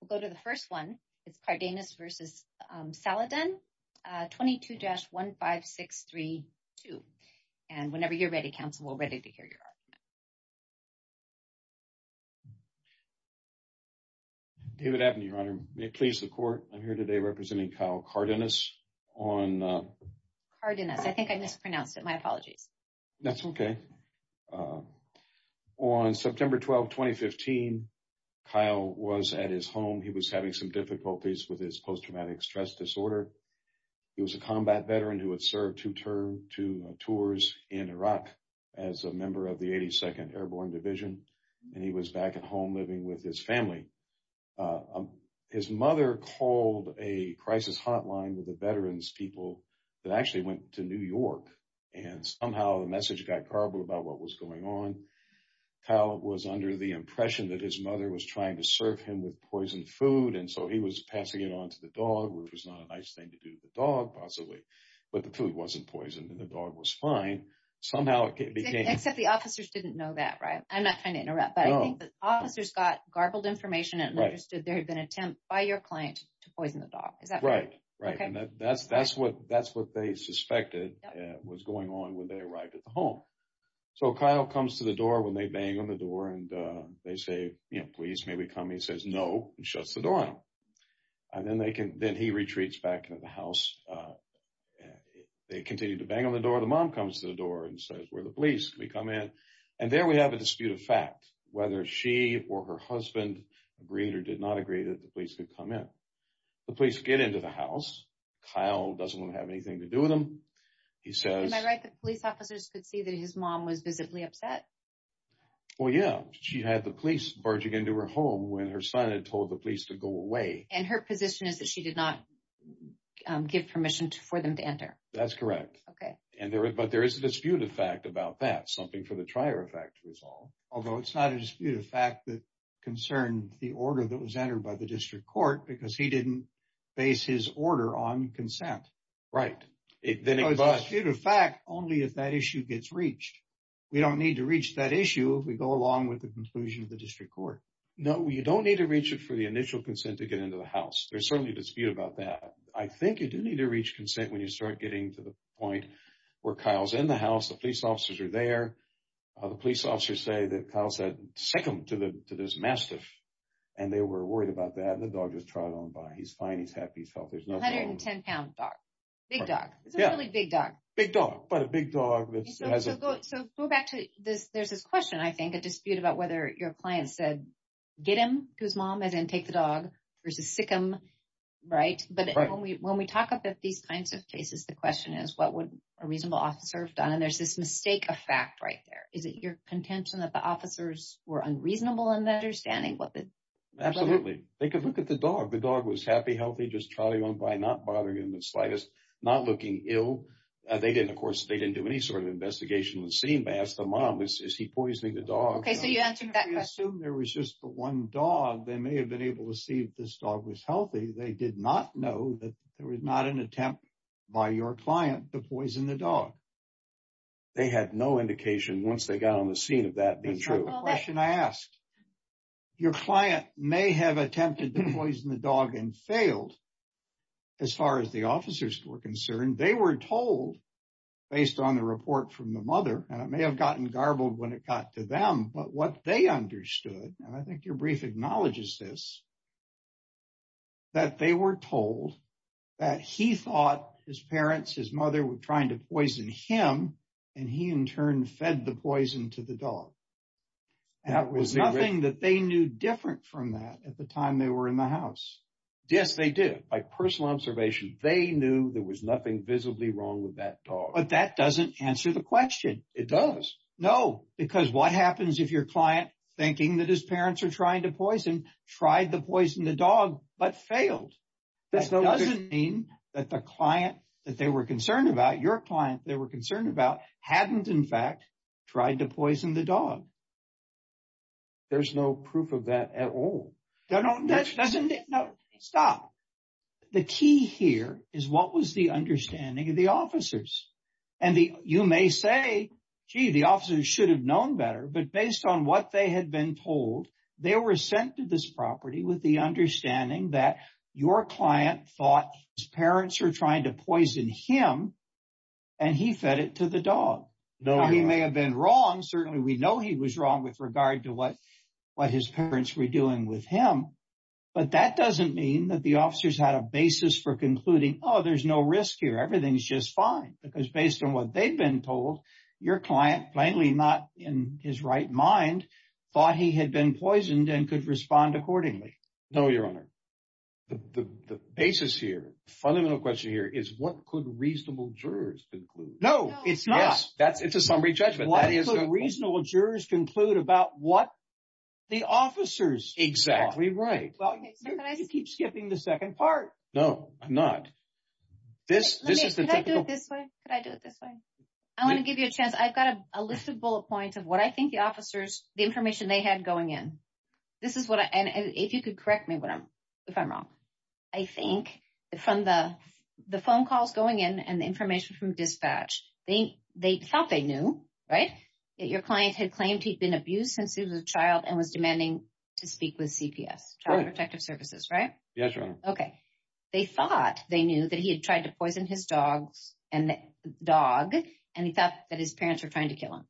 We'll go to the first one. It's Cardenas v. Saladen, 22-15632. And whenever you're ready, counsel, we're ready to hear your argument. David Abney, Your Honor. May it please the Court, I'm here today representing Kyle Cardenas on... Cardenas. I think I mispronounced it. My apologies. That's okay. On September 12, 2015, Kyle was at his home. He was having some difficulties with his post-traumatic stress disorder. He was a combat veteran who had served two tours in Iraq as a member of the 82nd Airborne Division, and he was back at home living with his family. His mother called a crisis hotline with the veterans people that actually went to New York, and somehow the message got garbled about what was going on. Kyle was under the impression that his mother was trying to serve him with poisoned food, and so he was passing it on to the dog, which was not a nice thing to do to the dog, possibly. But the food wasn't poisoned, and the dog was fine. Somehow it became... Except the officers didn't know that, right? I'm not trying to interrupt, but I think the officers got garbled information and understood there had been an attempt by your client to poison the dog. Is that right? Right, and that's what they suspected was going on when they arrived at the home. So, Kyle comes to the door when they bang on the door, and they say, you know, please, may we come? He says, no, and shuts the door. And then he retreats back into the house. They continue to bang on the door. The mom comes to the door and says, where are the police? Can we come in? And there we have a dispute of fact, whether she or her husband agreed or did not agree that the police could come in. The police get into the house. Kyle doesn't have anything to do with them. He says... Am I right that police officers could see that his mom was visibly upset? Well, yeah. She had the police barging into her home when her son had told the police to go away. And her position is that she did not give permission for them to enter. That's correct. Okay. But there is a dispute of fact about that, something for the trier of fact to resolve. Although it's not a dispute of fact that the order that was entered by the district court, because he didn't base his order on consent. Right. It was a dispute of fact only if that issue gets reached. We don't need to reach that issue if we go along with the conclusion of the district court. No, you don't need to reach it for the initial consent to get into the house. There's certainly a dispute about that. I think you do need to reach consent when you start getting to the point where Kyle's in the house, the police say that Kyle said, sick him to this mastiff. And they were worried about that. And the dog just trod on by. He's fine. He's happy. He felt there's no problem. 110 pound dog. Big dog. It's a really big dog. Big dog, but a big dog. So go back to this. There's this question, I think, a dispute about whether your client said, get him to his mom as in take the dog versus sick him. Right. But when we talk about these kinds of cases, the question is what would a reasonable officer have done? And there's this mistake of fact right there. Is it your contention that the officers were unreasonable in that understanding? Absolutely. They could look at the dog. The dog was happy, healthy, just trod on by, not bothering him the slightest, not looking ill. They didn't, of course, they didn't do any sort of investigation. They asked the mom, is he poisoning the dog? Okay. So you answered that question. I assume there was just the one dog. They may have been able to see if this dog was healthy. They did not know that there was not an attempt by your client to poison the dog. They had no indication once they got on the scene of that being true. That's not the question I asked. Your client may have attempted to poison the dog and failed as far as the officers were concerned. They were told based on the report from the mother, and it may have gotten garbled when it got to them, but what they understood, and I think your brief acknowledges this, that they were told that he thought his parents, his mother were trying to poison him and he in turn fed the poison to the dog. That was nothing that they knew different from that at the time they were in the house. Yes, they did. By personal observation, they knew there was nothing visibly wrong with that dog. But that doesn't answer the question. It does. No, because what happens if your client, thinking that his parents are trying to poison, tried to poison the dog but failed? That doesn't mean that the client that they were concerned about, your client they were concerned about, hadn't in fact tried to poison the dog. There's no proof of that at all. No, stop. The key here is what was the understanding of the better, but based on what they had been told, they were sent to this property with the understanding that your client thought his parents are trying to poison him and he fed it to the dog. He may have been wrong. Certainly, we know he was wrong with regard to what his parents were doing with him, but that doesn't mean that the officers had a basis for concluding, oh, there's no risk here. Everything's just fine. Because based on what they've been told, your client, plainly not in his right mind, thought he had been poisoned and could respond accordingly. No, Your Honor. The basis here, the fundamental question here is what could reasonable jurors conclude? No, it's not. Yes, it's a summary judgment. What could reasonable jurors conclude about what the officers thought? Exactly right. Well, you keep skipping the second part. No, I'm not. This is the typical- Let me, could I do it this way? Could I do it this way? I want to give you a chance. I've got a list of bullet points of what I think the officers, the information they had going in. This is what I, and if you could correct me if I'm wrong. I think from the phone calls going in and the information from dispatch, they thought they knew, right? That your client had claimed he'd been abused since he was a child and was demanding to speak with CPS, Child Protective Services, right? Yes, Your Honor. Okay. They thought they knew that he had tried to poison his dog and he thought that his parents were trying to kill him.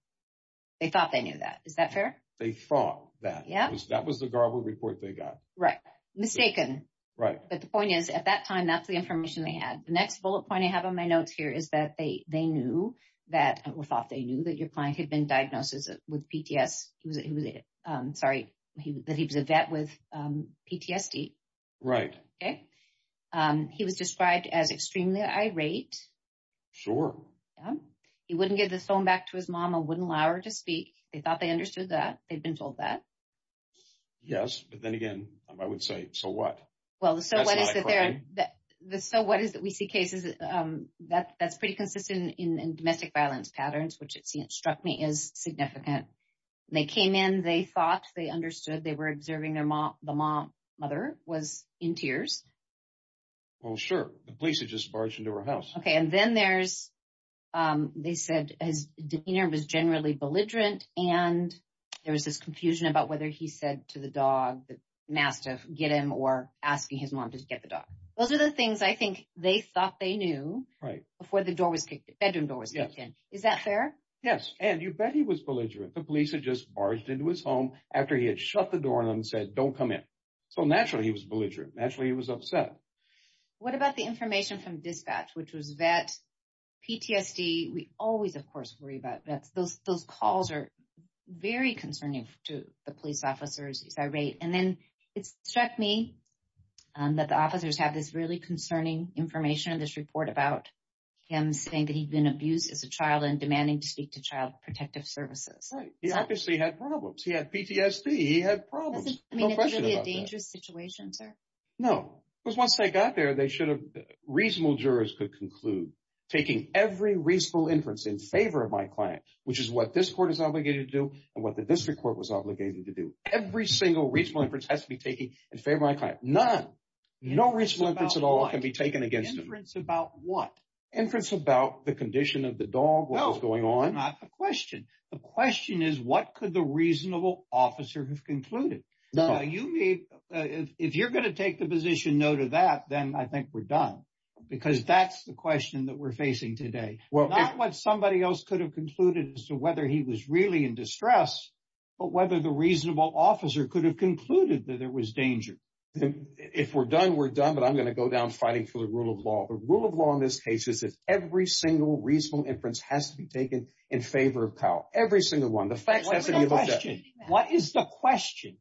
They thought they knew that. Is that fair? They thought that. Yeah. That was the Garber report they got. Right. Mistaken. Right. But the point is at that time, that's the information they had. The next bullet point I have on my notes here is that they knew that, or thought they knew that your client had been diagnosed with PTSD. Sorry, that he was a vet with PTSD. Right. Okay. He was described as extremely irate. Sure. Yeah. He wouldn't give this phone back to his mom and wouldn't allow her to speak. They thought they understood that. They've been told that. Yes. But then again, I would say, so what? Well, the so what is that we see cases that's pretty consistent in domestic violence patterns, which it struck me as significant. They came in, they thought, they understood, they were observing their mom, the mom, mother was in tears. Well, sure. The police had just barged into her house. Okay. And then there's, they said his demeanor was generally belligerent and there was this confusion about whether he said to the dog that he asked to get him or asking his mom to get the right before the bedroom door was kicked in. Is that fair? Yes. And you bet he was belligerent. The police had just barged into his home after he had shut the door on them and said, don't come in. So naturally he was belligerent. Naturally he was upset. What about the information from dispatch, which was vet, PTSD? We always, of course, worry about that. Those calls are very concerning to the police officers. He's irate. And then it struck me that the officers have this really concerning information in this report about him saying that he'd been abused as a child and demanding to speak to Child Protective Services. Right. He obviously had problems. He had PTSD. He had problems. No question about that. I mean, it's really a dangerous situation, sir. No. Because once they got there, they should have, reasonable jurors could conclude, taking every reasonable inference in favor of my client, which is what this court is obligated to do and what the district court was obligated to do. Every single reasonable inference has to be taken in favor of my client. None. No reasonable inference at all can be taken against him. Inference about what? Inference about the condition of the dog, what was going on. No. Not the question. The question is what could the reasonable officer have concluded? No. If you're going to take the position no to that, then I think we're done. Because that's the question that we're facing today. Not what somebody else could have concluded as to whether he was really in distress, but whether the reasonable officer could have danger. If we're done, we're done. But I'm going to go down fighting for the rule of law. The rule of law in this case is that every single reasonable inference has to be taken in favor of Kyle. Every single one. The facts have to be looked at. What is the question? What is the question?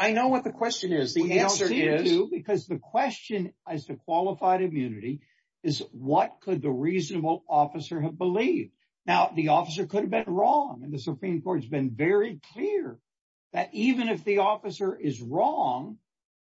I know what the question is. The answer is- We don't see it, too, because the question as to qualified immunity is what could the reasonable officer have believed? Now, the officer could have been wrong. And the Supreme Court has been very clear that even if the officer is wrong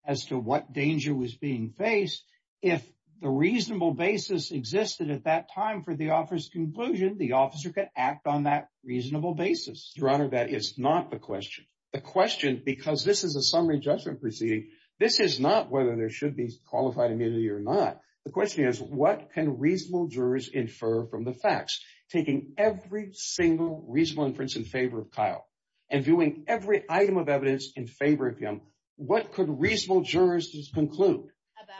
as to what danger was being faced, if the reasonable basis existed at that time for the officer's conclusion, the officer could act on that reasonable basis. Your Honor, that is not the question. The question, because this is a summary judgment proceeding, this is not whether there should be qualified immunity or not. The question is what can reasonable jurors infer from the facts? Taking every single reasonable inference in favor of Kyle and doing every item of evidence in favor of him, what could reasonable jurors conclude?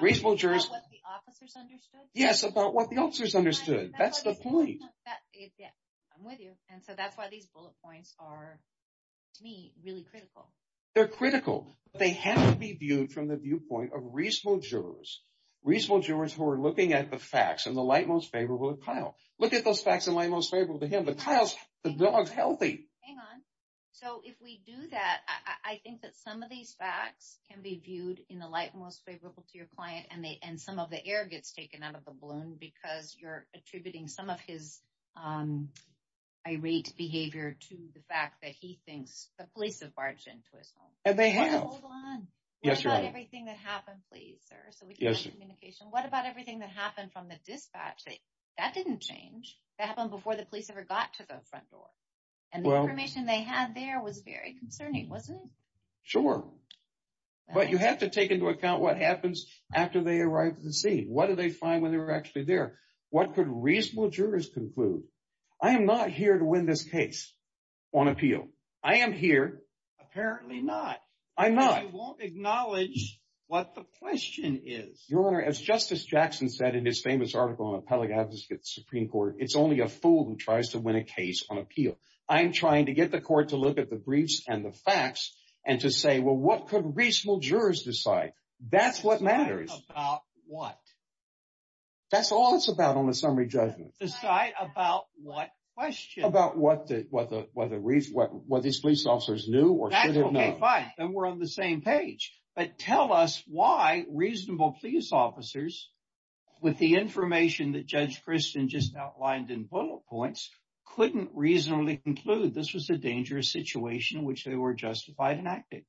About what the officers understood? Yes, about what the officers understood. That's the point. I'm with you. And so that's why these bullet points are, to me, really critical. They're critical, but they have to be viewed from the viewpoint of reasonable jurors. Reasonable jurors who are looking at the facts in the light most favorable of Kyle. Look at those facts in most favorable to him. But Kyle's, the dog's healthy. Hang on. So if we do that, I think that some of these facts can be viewed in the light most favorable to your client and some of the air gets taken out of the balloon because you're attributing some of his irate behavior to the fact that he thinks the police have barged into his home. And they have. Hold on. Yes, Your Honor. What about everything that happened, please, sir, so we can get some communication. What about everything that happened from the dispatch? That didn't change. That happened before the police ever got to the front door. And the information they had there was very concerning, wasn't it? Sure. But you have to take into account what happens after they arrived at the scene. What did they find when they were actually there? What could reasonable jurors conclude? I am not here to win this case on appeal. I am here. Apparently not. I'm not. I won't acknowledge what the question is. Your Honor, as Justice Jackson said in his famous article on Appellate Advocates Supreme Court, it's only a fool who tries to win a case on appeal. I'm trying to get the court to look at the briefs and the facts and to say, well, what could reasonable jurors decide? That's what matters. Decide about what? That's all it's about on the summary judgment. Decide about what question? About what these police officers knew or should have known. And we're on the same page. But tell us why reasonable police officers, with the information that Judge Christian just outlined in bullet points, couldn't reasonably conclude this was a dangerous situation in which they were justified in acting.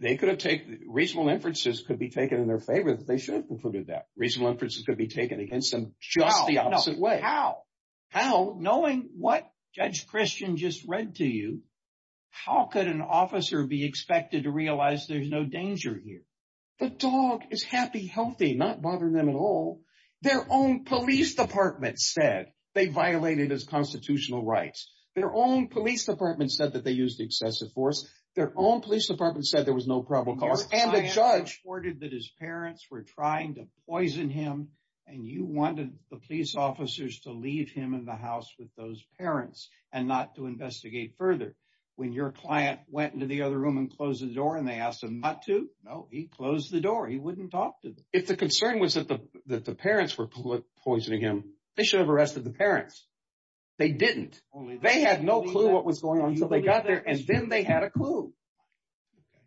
They could have taken, reasonable inferences could be taken in their favor that they should have concluded that. Reasonable inferences could be taken against them just the opposite way. How? How? Knowing what Judge Christian just read to you, how could an officer be expected to realize there's no danger here? The dog is happy, healthy, not bothering them at all. Their own police department said they violated his constitutional rights. Their own police department said that they used excessive force. Their own police department said there was no probable cause. And the judge reported that his parents were trying to poison him. And you wanted the police officers to leave him in the house with those parents and not to investigate further. When your client went into the other room and closed the door and they asked him not to, no, he closed the door. He wouldn't talk to them. If the concern was that the parents were poisoning him, they should have arrested the parents. They didn't. They had no clue what was going on until they got there and then they had a clue. Okay.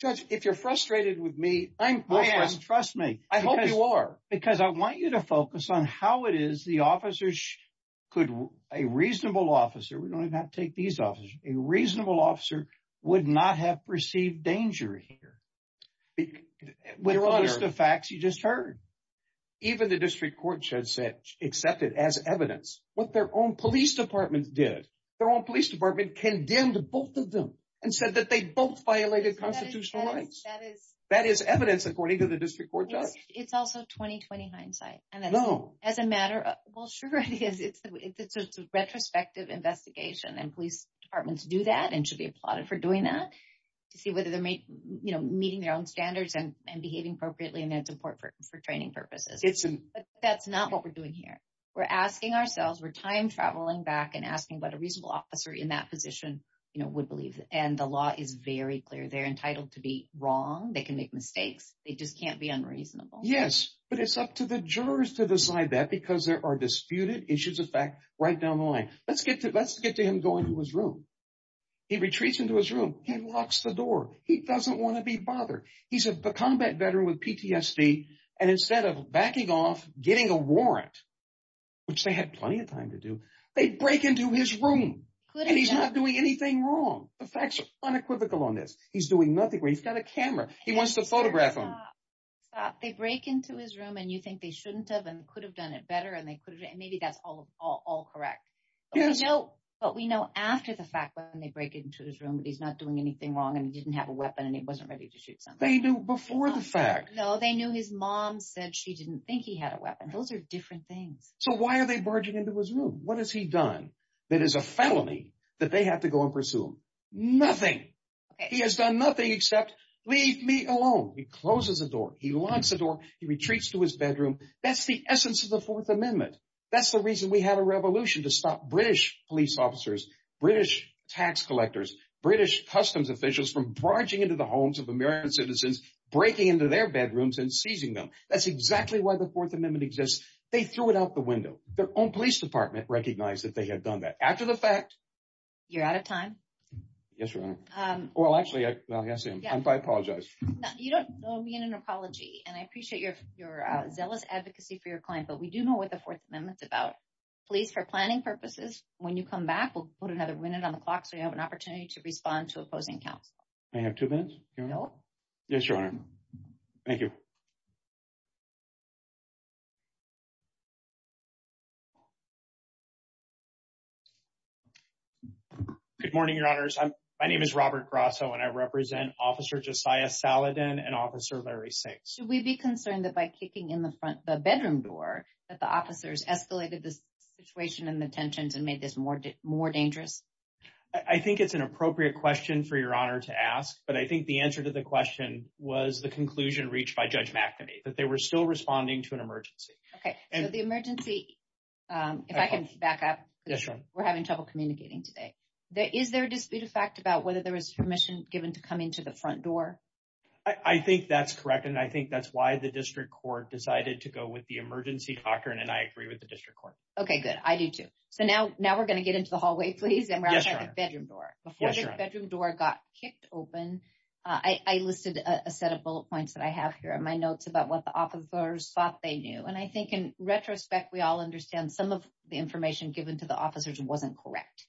Judge, if you're frustrated with me, I am. Trust me. I hope you are. Because I want you to focus on how it is the officers could, a reasonable officer, we don't even have to take these officers, a reasonable officer would not have perceived danger here. With the facts you just heard. Even the district court should accept it as evidence. What their own police department did, their own police department condemned both of them and said that they both violated constitutional rights. That is evidence according to the district court judge. It's also 20-20 hindsight. No. As a matter of, well, sure it is. It's a retrospective investigation and police departments do that and should be applauded for doing that to see whether they're meeting their own standards and behaving appropriately and that's important for training purposes. That's not what we're doing here. We're asking ourselves, we're time traveling back and asking what a reasonable officer in that position would believe. And the law is very clear. They're reasonable. Yes, but it's up to the jurors to decide that because there are disputed issues of fact right down the line. Let's get to him going to his room. He retreats into his room. He locks the door. He doesn't want to be bothered. He's a combat veteran with PTSD and instead of backing off, getting a warrant, which they had plenty of time to do, they break into his room and he's not doing anything wrong. The facts are unequivocal on this. He's doing nothing. He's got a camera. He wants to photograph him. Stop. They break into his room and you think they shouldn't have and could have done it better and they could have and maybe that's all correct. Yes. But we know after the fact when they break into his room that he's not doing anything wrong and he didn't have a weapon and he wasn't ready to shoot something. They knew before the fact. No, they knew his mom said she didn't think he had a weapon. Those are different things. So why are they barging into his room? What has he done that is a felony that they have to go and pursue him? Nothing. He has done nothing except leave me alone. He closes the door. He locks the door. He retreats to his bedroom. That's the essence of the Fourth Amendment. That's the reason we had a revolution to stop British police officers, British tax collectors, British customs officials from barging into the homes of American citizens, breaking into their bedrooms and seizing them. That's exactly why the Fourth Amendment exists. They threw it out the window. Their own police department recognized that they had done that after the fact. You're out of time. Yes, Your Honor. Well, actually, yes, I apologize. You don't owe me an apology and I appreciate your zealous advocacy for your client, but we do know what the Fourth Amendment's about. Please, for planning purposes, when you come back, we'll put another minute on the clock so you have an opportunity to respond to opposing counsel. I have two minutes. Yes, Your Honor. Thank you. Good morning, Your Honors. My name is Robert Grasso and I represent Officer Josiah Saladin and Officer Larry Six. Should we be concerned that by kicking in the bedroom door that the officers escalated the situation and the tensions and made this more dangerous? I think it's an appropriate question for Your Honor to ask, but I think the answer to the question was the conclusion reached by Judge McNamee, that they were still responding to an today. Is there a disputed fact about whether there was permission given to come into the front door? I think that's correct, and I think that's why the district court decided to go with the emergency clock, and I agree with the district court. Okay, good. I do too. So now we're going to get into the hallway, please, and we're going to check the bedroom door. Before the bedroom door got kicked open, I listed a set of bullet points that I have here in my notes about what the officers thought they knew. And I think in retrospect, we all understand some of the correct.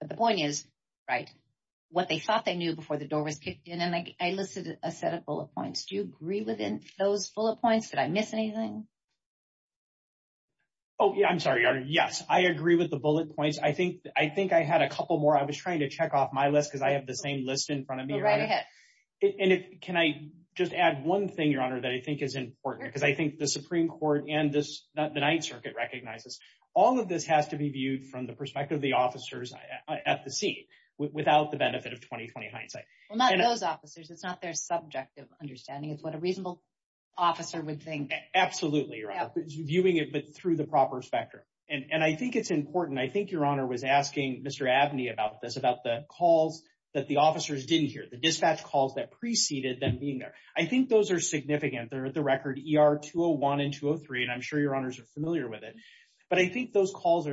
But the point is, right, what they thought they knew before the door was kicked in, and I listed a set of bullet points. Do you agree with those bullet points? Did I miss anything? Oh, yeah, I'm sorry, Your Honor. Yes, I agree with the bullet points. I think I had a couple more. I was trying to check off my list because I have the same list in front of me. Go right ahead. And can I just add one thing, Your Honor, that I think is important? Because I think the Supreme Court and the Ninth Circuit recognizes all of this has to be viewed from the perspective of at the scene without the benefit of 20-20 hindsight. Well, not those officers. It's not their subjective understanding. It's what a reasonable officer would think. Absolutely, Your Honor. Viewing it through the proper spectrum. And I think it's important. I think Your Honor was asking Mr. Abney about this, about the calls that the officers didn't hear, the dispatch calls that preceded them being there. I think those are significant. They're the record ER 201 and 203, and I'm sure Your Honors are familiar with it. But I think those because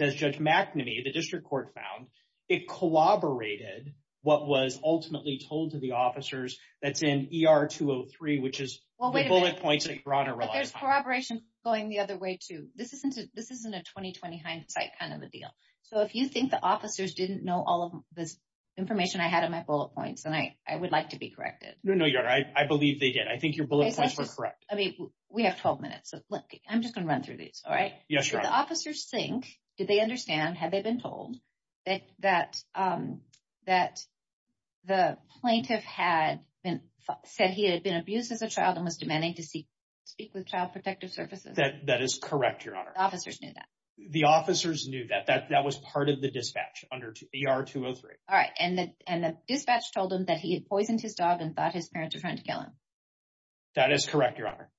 as Judge McNamee, the district court found, it corroborated what was ultimately told to the officers that's in ER 203, which is the bullet points that Your Honor relied on. But there's corroboration going the other way too. This isn't a 20-20 hindsight kind of a deal. So if you think the officers didn't know all of this information I had in my bullet points, then I would like to be corrected. No, Your Honor. I believe they did. I think your bullet points were correct. I mean, we have 12 minutes. So look, I'm just going to run through these, all right? Yes, Your Honor. Did the officers think, did they understand, had they been told, that the plaintiff had said he had been abused as a child and was demanding to speak with Child Protective Services? That is correct, Your Honor. The officers knew that? The officers knew that. That was part of the dispatch under ER 203. All right. And the dispatch told him that he had poisoned his dog and thought his parents were trying to kill him? That is correct, Your Honor.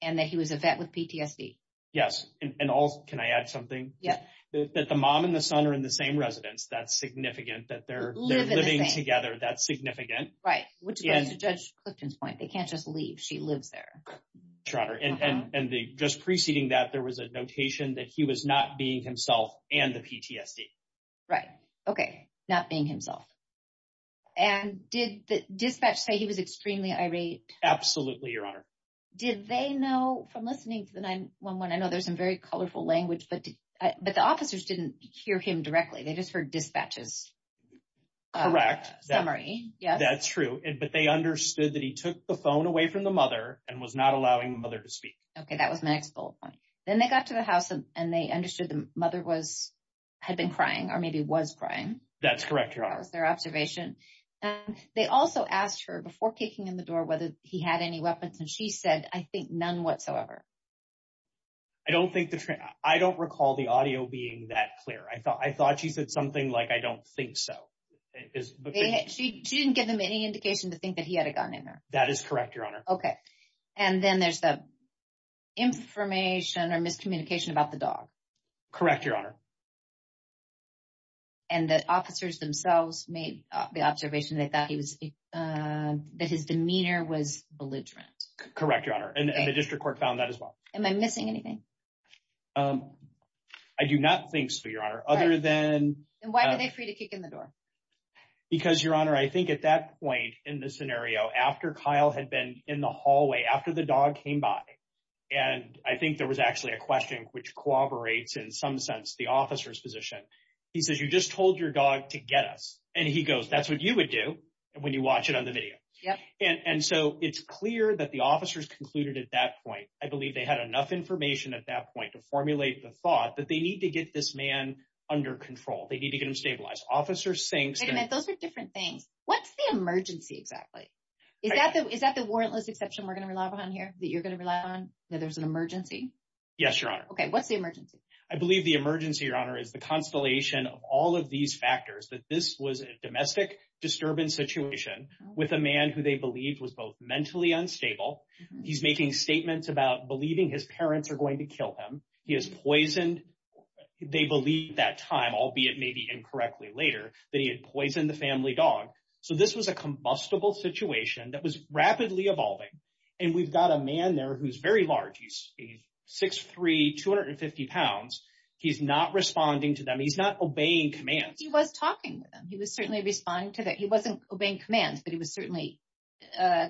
And that he was a vet with PTSD? Yes. And also, can I add something? Yeah. That the mom and the son are in the same residence, that's significant. That they're living together, that's significant. Right. Which goes to Judge Clifton's point. They can't just leave. She lives there. Sure, Your Honor. And just preceding that, there was a notation that he was not being himself and the PTSD. Right. Okay. Not being himself. And did the dispatch say he was extremely irate? Absolutely, Your Honor. Did they know, from listening to the 911, I know there's some very colorful language, but the officers didn't hear him directly. They just heard dispatches. Correct. Summary, yes. That's true. But they understood that he took the phone away from the mother and was not allowing the mother to speak. Okay. That was my next bullet point. Then they got to the house and they understood the mother had been crying or maybe was crying. That's correct, Your Honor. That was their observation. They also asked her, before kicking in the door, whether he had any weapons. And she said, I think none whatsoever. I don't recall the audio being that clear. I thought she said something like, I don't think so. She didn't give them any indication to think that he had a gun in her. That is correct, Your Honor. Okay. And then there's the information or miscommunication about the dog. Correct, Your Honor. And the officers themselves made the observation that his demeanor was belligerent. Correct, Your Honor. And the district court found that as well. Am I missing anything? I do not think so, Your Honor, other than... And why were they free to kick in the door? Because, Your Honor, I think at that point in the scenario, after Kyle had been in the hallway, after the dog came by, and I think there was actually a question which cooperates in some sense the officer's position. He says, you just told your dog to get us. And he goes, that's what you would do when you watch it on the video. Yep. And so it's clear that the officers concluded at that point, I believe they had enough information at that point to formulate the thought that they need to get this man under control. They need to get him stabilized. Officers saying... Wait a minute. Those are different things. What's the emergency exactly? Is that the warrantless exception we're going to rely on here that you're going to rely on? That there's an emergency? Yes, Your Honor. Okay. What's the emergency? I believe the emergency, Your Honor, is the constellation of all of these factors that this was a domestic disturbance situation with a man who they believed was both mentally unstable. He's making statements about believing his parents are going to kill him. He is poisoned. They believe that time, albeit maybe incorrectly later, that he had poisoned the family dog. So this was a combustible situation that was rapidly evolving. And we've got a man there who's very large. He's 6'3", 250 pounds. He's not responding to them. He's not obeying commands. He was talking to them. He was certainly responding to them. He wasn't obeying commands, but he was certainly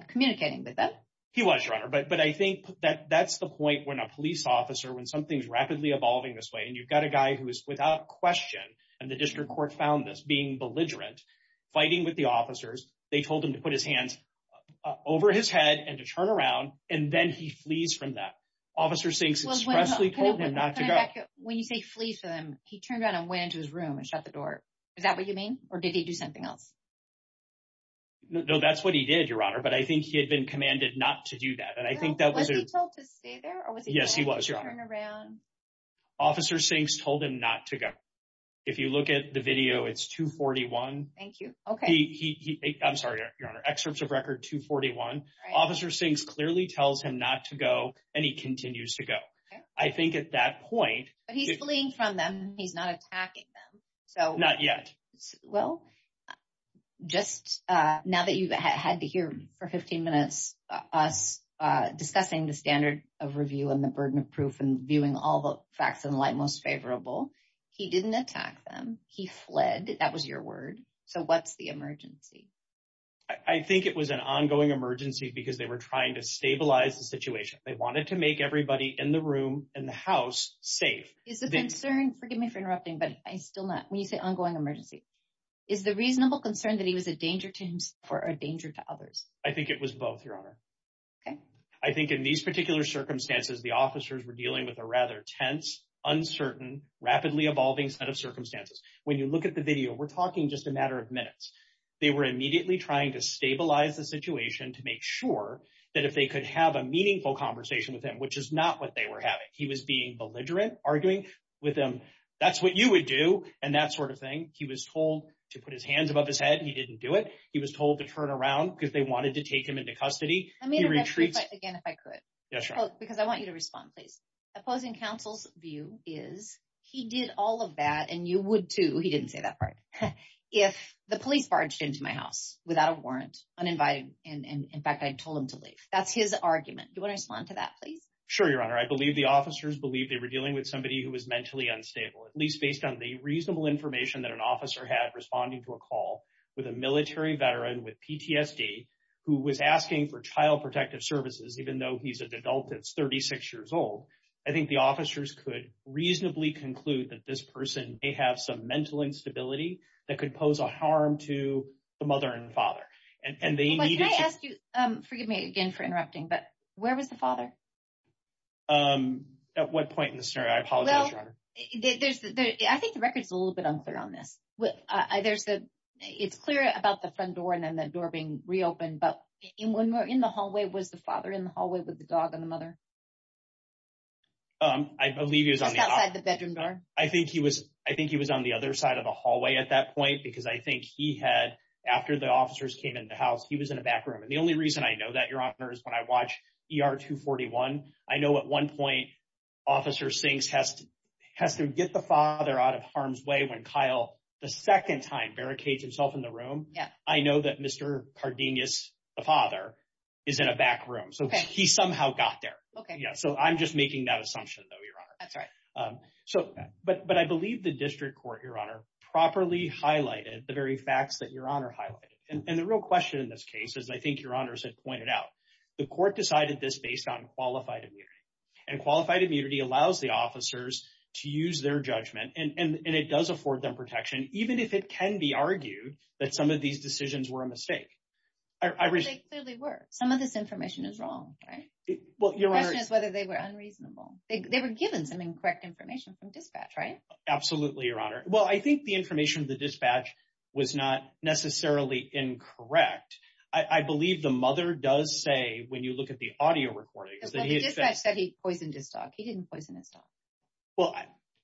communicating with them. He was, Your Honor. But I think that that's the point when a police officer, when something's rapidly evolving this way, and you've got a guy who is without question, and the district court found this, being belligerent, fighting with the officers. They told him to put his hands over his head and to turn around, and then he flees from that. Officer Sinks expressly told him not to go. When you say flees from them, he turned around and went into his room and shut the door. Is that what you mean? Or did he do something else? No, that's what he did, Your Honor. But I think he had been commanded not to do that. And I think that was... Was he told to stay there or was he told to turn around? Yes, he was, Your Honor. Officer Sinks told him not to go. If you look at the video, it's 241. Thank you. Okay. I'm sorry, Your Honor. Excerpts of record 241. Officer Sinks clearly tells him not to go, and he continues to go. I think at that point... But he's fleeing from them. He's not attacking them. Not yet. Well, just now that you've had to hear for 15 minutes us discussing the standard of review and the burden of proof and viewing all the facts in light most favorable, he didn't attack them. He fled. That was your word. So what's the emergency? I think it was an ongoing emergency because they were trying to stabilize the situation. They wanted to make everybody in the room and the house safe. Is the concern... Forgive me for interrupting, but I still not... When you say ongoing emergency, is the reasonable concern that he was a danger to himself or a danger to others? I think it was both, Your Honor. Okay. I think in these particular circumstances, the officers were dealing with a rather tense, uncertain, rapidly evolving set of circumstances. When you look at the video, we're talking just a matter of minutes. They were immediately trying to stabilize the situation to make sure that if they could have a meaningful conversation with him, which is not what they were having. He was being belligerent, arguing with them, that's what you would do, and that sort of thing. He was told to put his hands above his head. He didn't do it. He was told to turn around because they wanted to take him into custody. I mean, again, if I could. Yeah, sure. Because I want you to respond, please. Opposing counsel's view is he did all of that, and you would too. He didn't say that part. If the police barged into my house without a warrant, uninvited, and in fact, I told him to leave. That's his argument. Do you want to respond to that, please? Sure, Your Honor. I believe the officers believed they were dealing with somebody who was mentally unstable, at least based on the reasonable information that an officer had responding to a call with a military veteran with PTSD who was asking for child protective services, even though he's an adult that's 36 years old. I think the officers could reasonably conclude that this person may have some mental instability that could pose a harm to the mother and father. But can I ask you, forgive me again for interrupting, but where was the father? At what point in the scenario? I apologize, Your Honor. I think the record's a little bit unclear on this. It's clear about the front door and then the door being reopened. And when we're in the hallway, was the father in the hallway with the dog and the mother? I believe he was on the- Just outside the bedroom door? I think he was on the other side of the hallway at that point, because I think he had, after the officers came into the house, he was in a back room. And the only reason I know that, Your Honor, is when I watch ER 241, I know at one point, Officer Sinks has to get the father out of harm's way when Kyle, the second time, barricades himself in the room. I know that Mr. Cardenas, the father, is in a back room. So he somehow got there. So I'm just making that assumption, though, Your Honor. But I believe the district court, Your Honor, properly highlighted the very facts that Your Honor highlighted. And the real question in this case, as I think Your Honors had pointed out, the court decided this based on qualified immunity. And qualified immunity allows the officers to use their judgment, and it does afford them protection, even if it can be argued that some of these decisions were a mistake. I really- They clearly were. Some of this information is wrong, right? Well, Your Honor- The question is whether they were unreasonable. They were given some incorrect information from dispatch, right? Absolutely, Your Honor. Well, I think the information of the dispatch was not necessarily incorrect. I believe the mother does say, when you look at the audio recordings, that he- Well, the dispatch said he poisoned his dog. He didn't poison his dog. Well,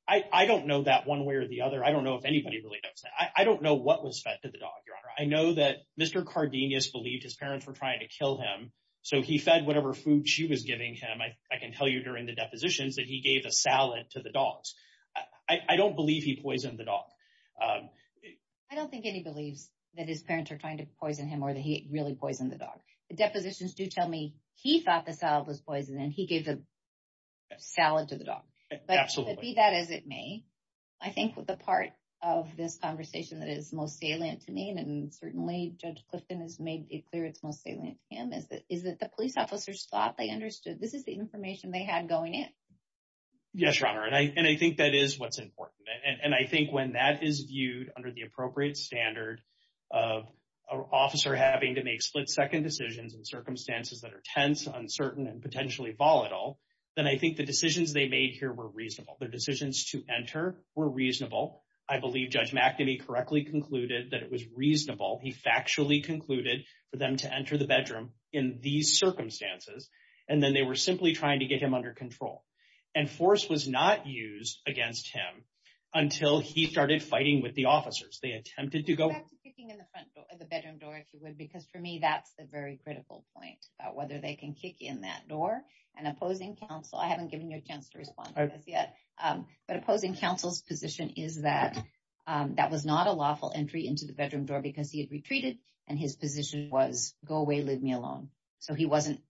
I don't know that one way or the other. I don't know if anybody really knows that. I don't know what was fed to the dog, Your Honor. I know that Mr. Cardenas believed his parents were trying to kill him, so he fed whatever food she was giving him. I can tell you during the depositions that he gave a salad to the dogs. I don't believe he poisoned the dog. I don't think any believes that his parents are trying to poison him, or that he really poisoned the dog. The depositions do tell me he thought the salad was poisoned, and he gave the salad to the dog. Absolutely. Be that as it may, I think the part of this conversation that is most salient to me, and certainly Judge Clifton has made it clear it's most salient to him, is that the police officers thought they understood. This is the information they had going in. Yes, Your Honor, and I think that is what's important. And I think when that is viewed under the appropriate standard of an officer having to make split-second decisions in circumstances that are tense, uncertain, and potentially volatile, then I think the decisions they made here were reasonable. Their decisions to enter were reasonable. I believe Judge McNamee correctly concluded that it was reasonable, he factually concluded, for them to enter the bedroom in these circumstances, and then they were simply trying to get him under control. And force was not used against him until he started fighting with the officers. They attempted to go... Back to kicking in the front door, the bedroom door, if you would, because for me that's the very critical point, about whether they can kick in that door. And opposing counsel, I haven't given you a chance to respond to this yet, but opposing counsel's position is that that was not a lawful entry into the bedroom door because he had retreated and his position was, go away, leave me alone. So he wasn't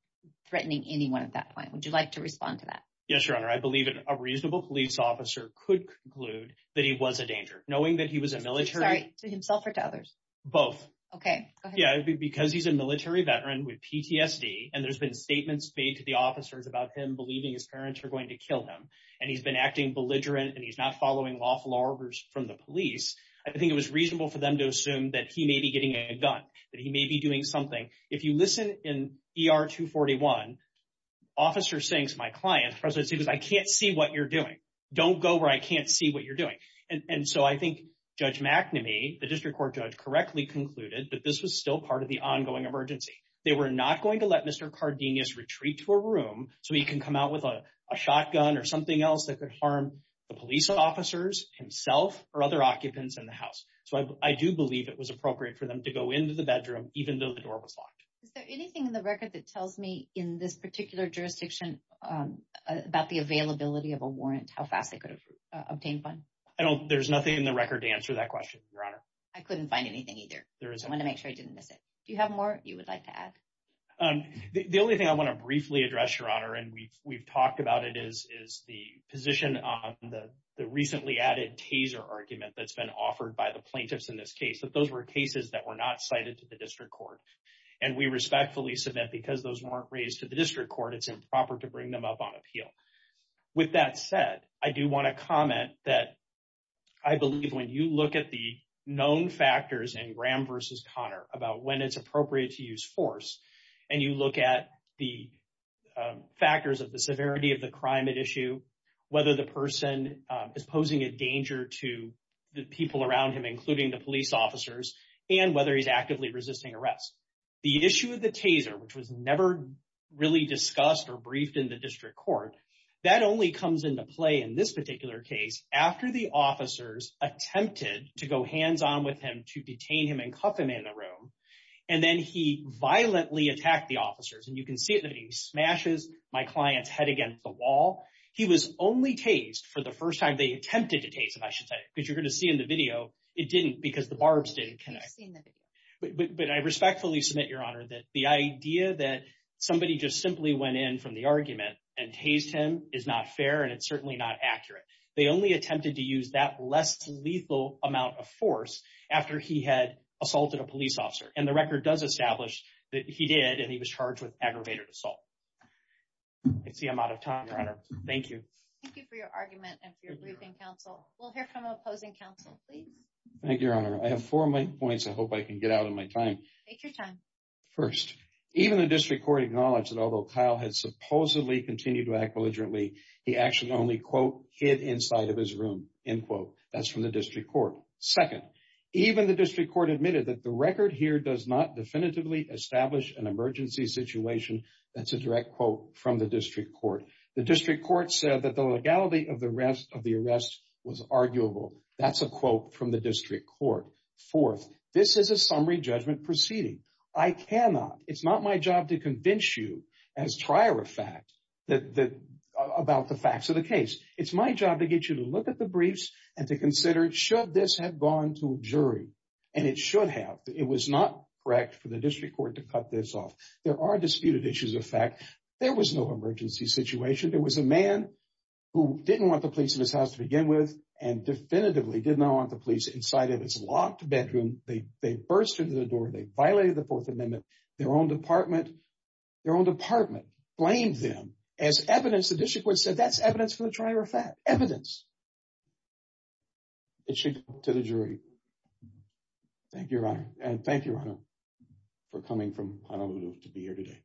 threatening anyone at that point. Would you like to respond to that? Yes, Your Honor, I believe a reasonable police officer could conclude that he was a danger, knowing that he was a military... Sorry, to himself or to others? Both. Okay, go ahead. Yeah, because he's a military veteran with PTSD and there's been statements made to the officers about him believing his parents were going to kill him, and he's been acting belligerent, and he's not following lawful orders from the police. I think it was reasonable for them to assume that he may be getting a gun, that he may be doing something. If you listen in ER 241, officers saying to my client, the president said, I can't see what you're doing. Don't go where I can't see what you're doing. And so I think Judge McNamee, the district court judge, correctly concluded that this was still part of the ongoing emergency. They were not going to let Mr. Cardenas retreat to a room so he can come out with a shotgun or something else that could harm the police officers, himself or other occupants in the house. So I do believe it was appropriate for them to go into the bedroom, even though the door was locked. Is there anything in the record that tells me in this particular jurisdiction about the availability of a warrant, how fast they could have obtained one? I don't... There's nothing in the record to answer that question, Your Honor. I couldn't find anything either. There isn't. I want to make sure I didn't miss it. Do you have more you would like to add? The only thing I want to briefly address, Your Honor, and we've talked about it, is the position on the recently added taser argument that's been offered by the plaintiffs in this case, that those were cases that were not cited to the district court. And we respectfully submit, because those weren't raised to the district court, it's improper to bring them up on appeal. With that said, I do want to comment that I believe when you look at the known factors in Graham versus Connor about when it's appropriate to use force, and you look at the factors of the severity of the crime at issue, whether the person is posing a danger to the people around him, including the police officers, and whether he's actively resisting arrest. The issue of the taser, which was never really discussed or briefed in the district court, that only comes into play in this particular case after the officers attempted to go hands-on with him to detain him and cuff him in the room. And then he violently attacked the officers. And you can see that he smashes my client's head against the wall. He was only tased for the first time. They attempted to tase him, I should say, because you're going to see in the video, it didn't because the barbs didn't connect. But I respectfully submit, Your Honor, that the idea that somebody just simply went in from the argument and tased him is not fair and it's certainly not accurate. They only attempted to use that less lethal amount of force after he had assaulted a police officer. And the record does establish that he did, and he was charged with aggravated assault. I see I'm out of time, Your Honor. Thank you. Thank you for your argument and for your briefing, counsel. We'll hear from the opposing counsel, please. Thank you, Your Honor. I have four points I hope I can get out of my time. Take your time. First, even the district court acknowledged that although Kyle had supposedly continued to act belligerently, he actually only, quote, hid inside of his room, end quote. That's from the district court. Second, even the district court admitted that the record here does not definitively establish an emergency situation. That's a direct quote from the district court. The district court said that the legality of the arrest was arguable. That's a quote from the district court. Fourth, this is a summary judgment proceeding. I cannot, it's not my job to convince you as trier of fact about the facts of the case. It's my job to get you to look at the briefs and to consider, should this have gone to a jury? And it should have. It was not correct for the district court to cut this off. There are disputed issues of fact. There was no emergency situation. There was a man who didn't want the police in his house to begin with and definitively did not want the police inside of his locked bedroom. They burst into the door. They violated the Fourth Amendment. Their own department blamed them as evidence. The district court said that's evidence for the trier of fact, evidence. It should go to the jury. Thank you, Your Honor. And thank you, Ronald, for coming from Honolulu to be here today.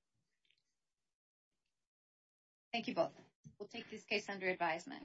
Thank you both. We'll take this case under advisement.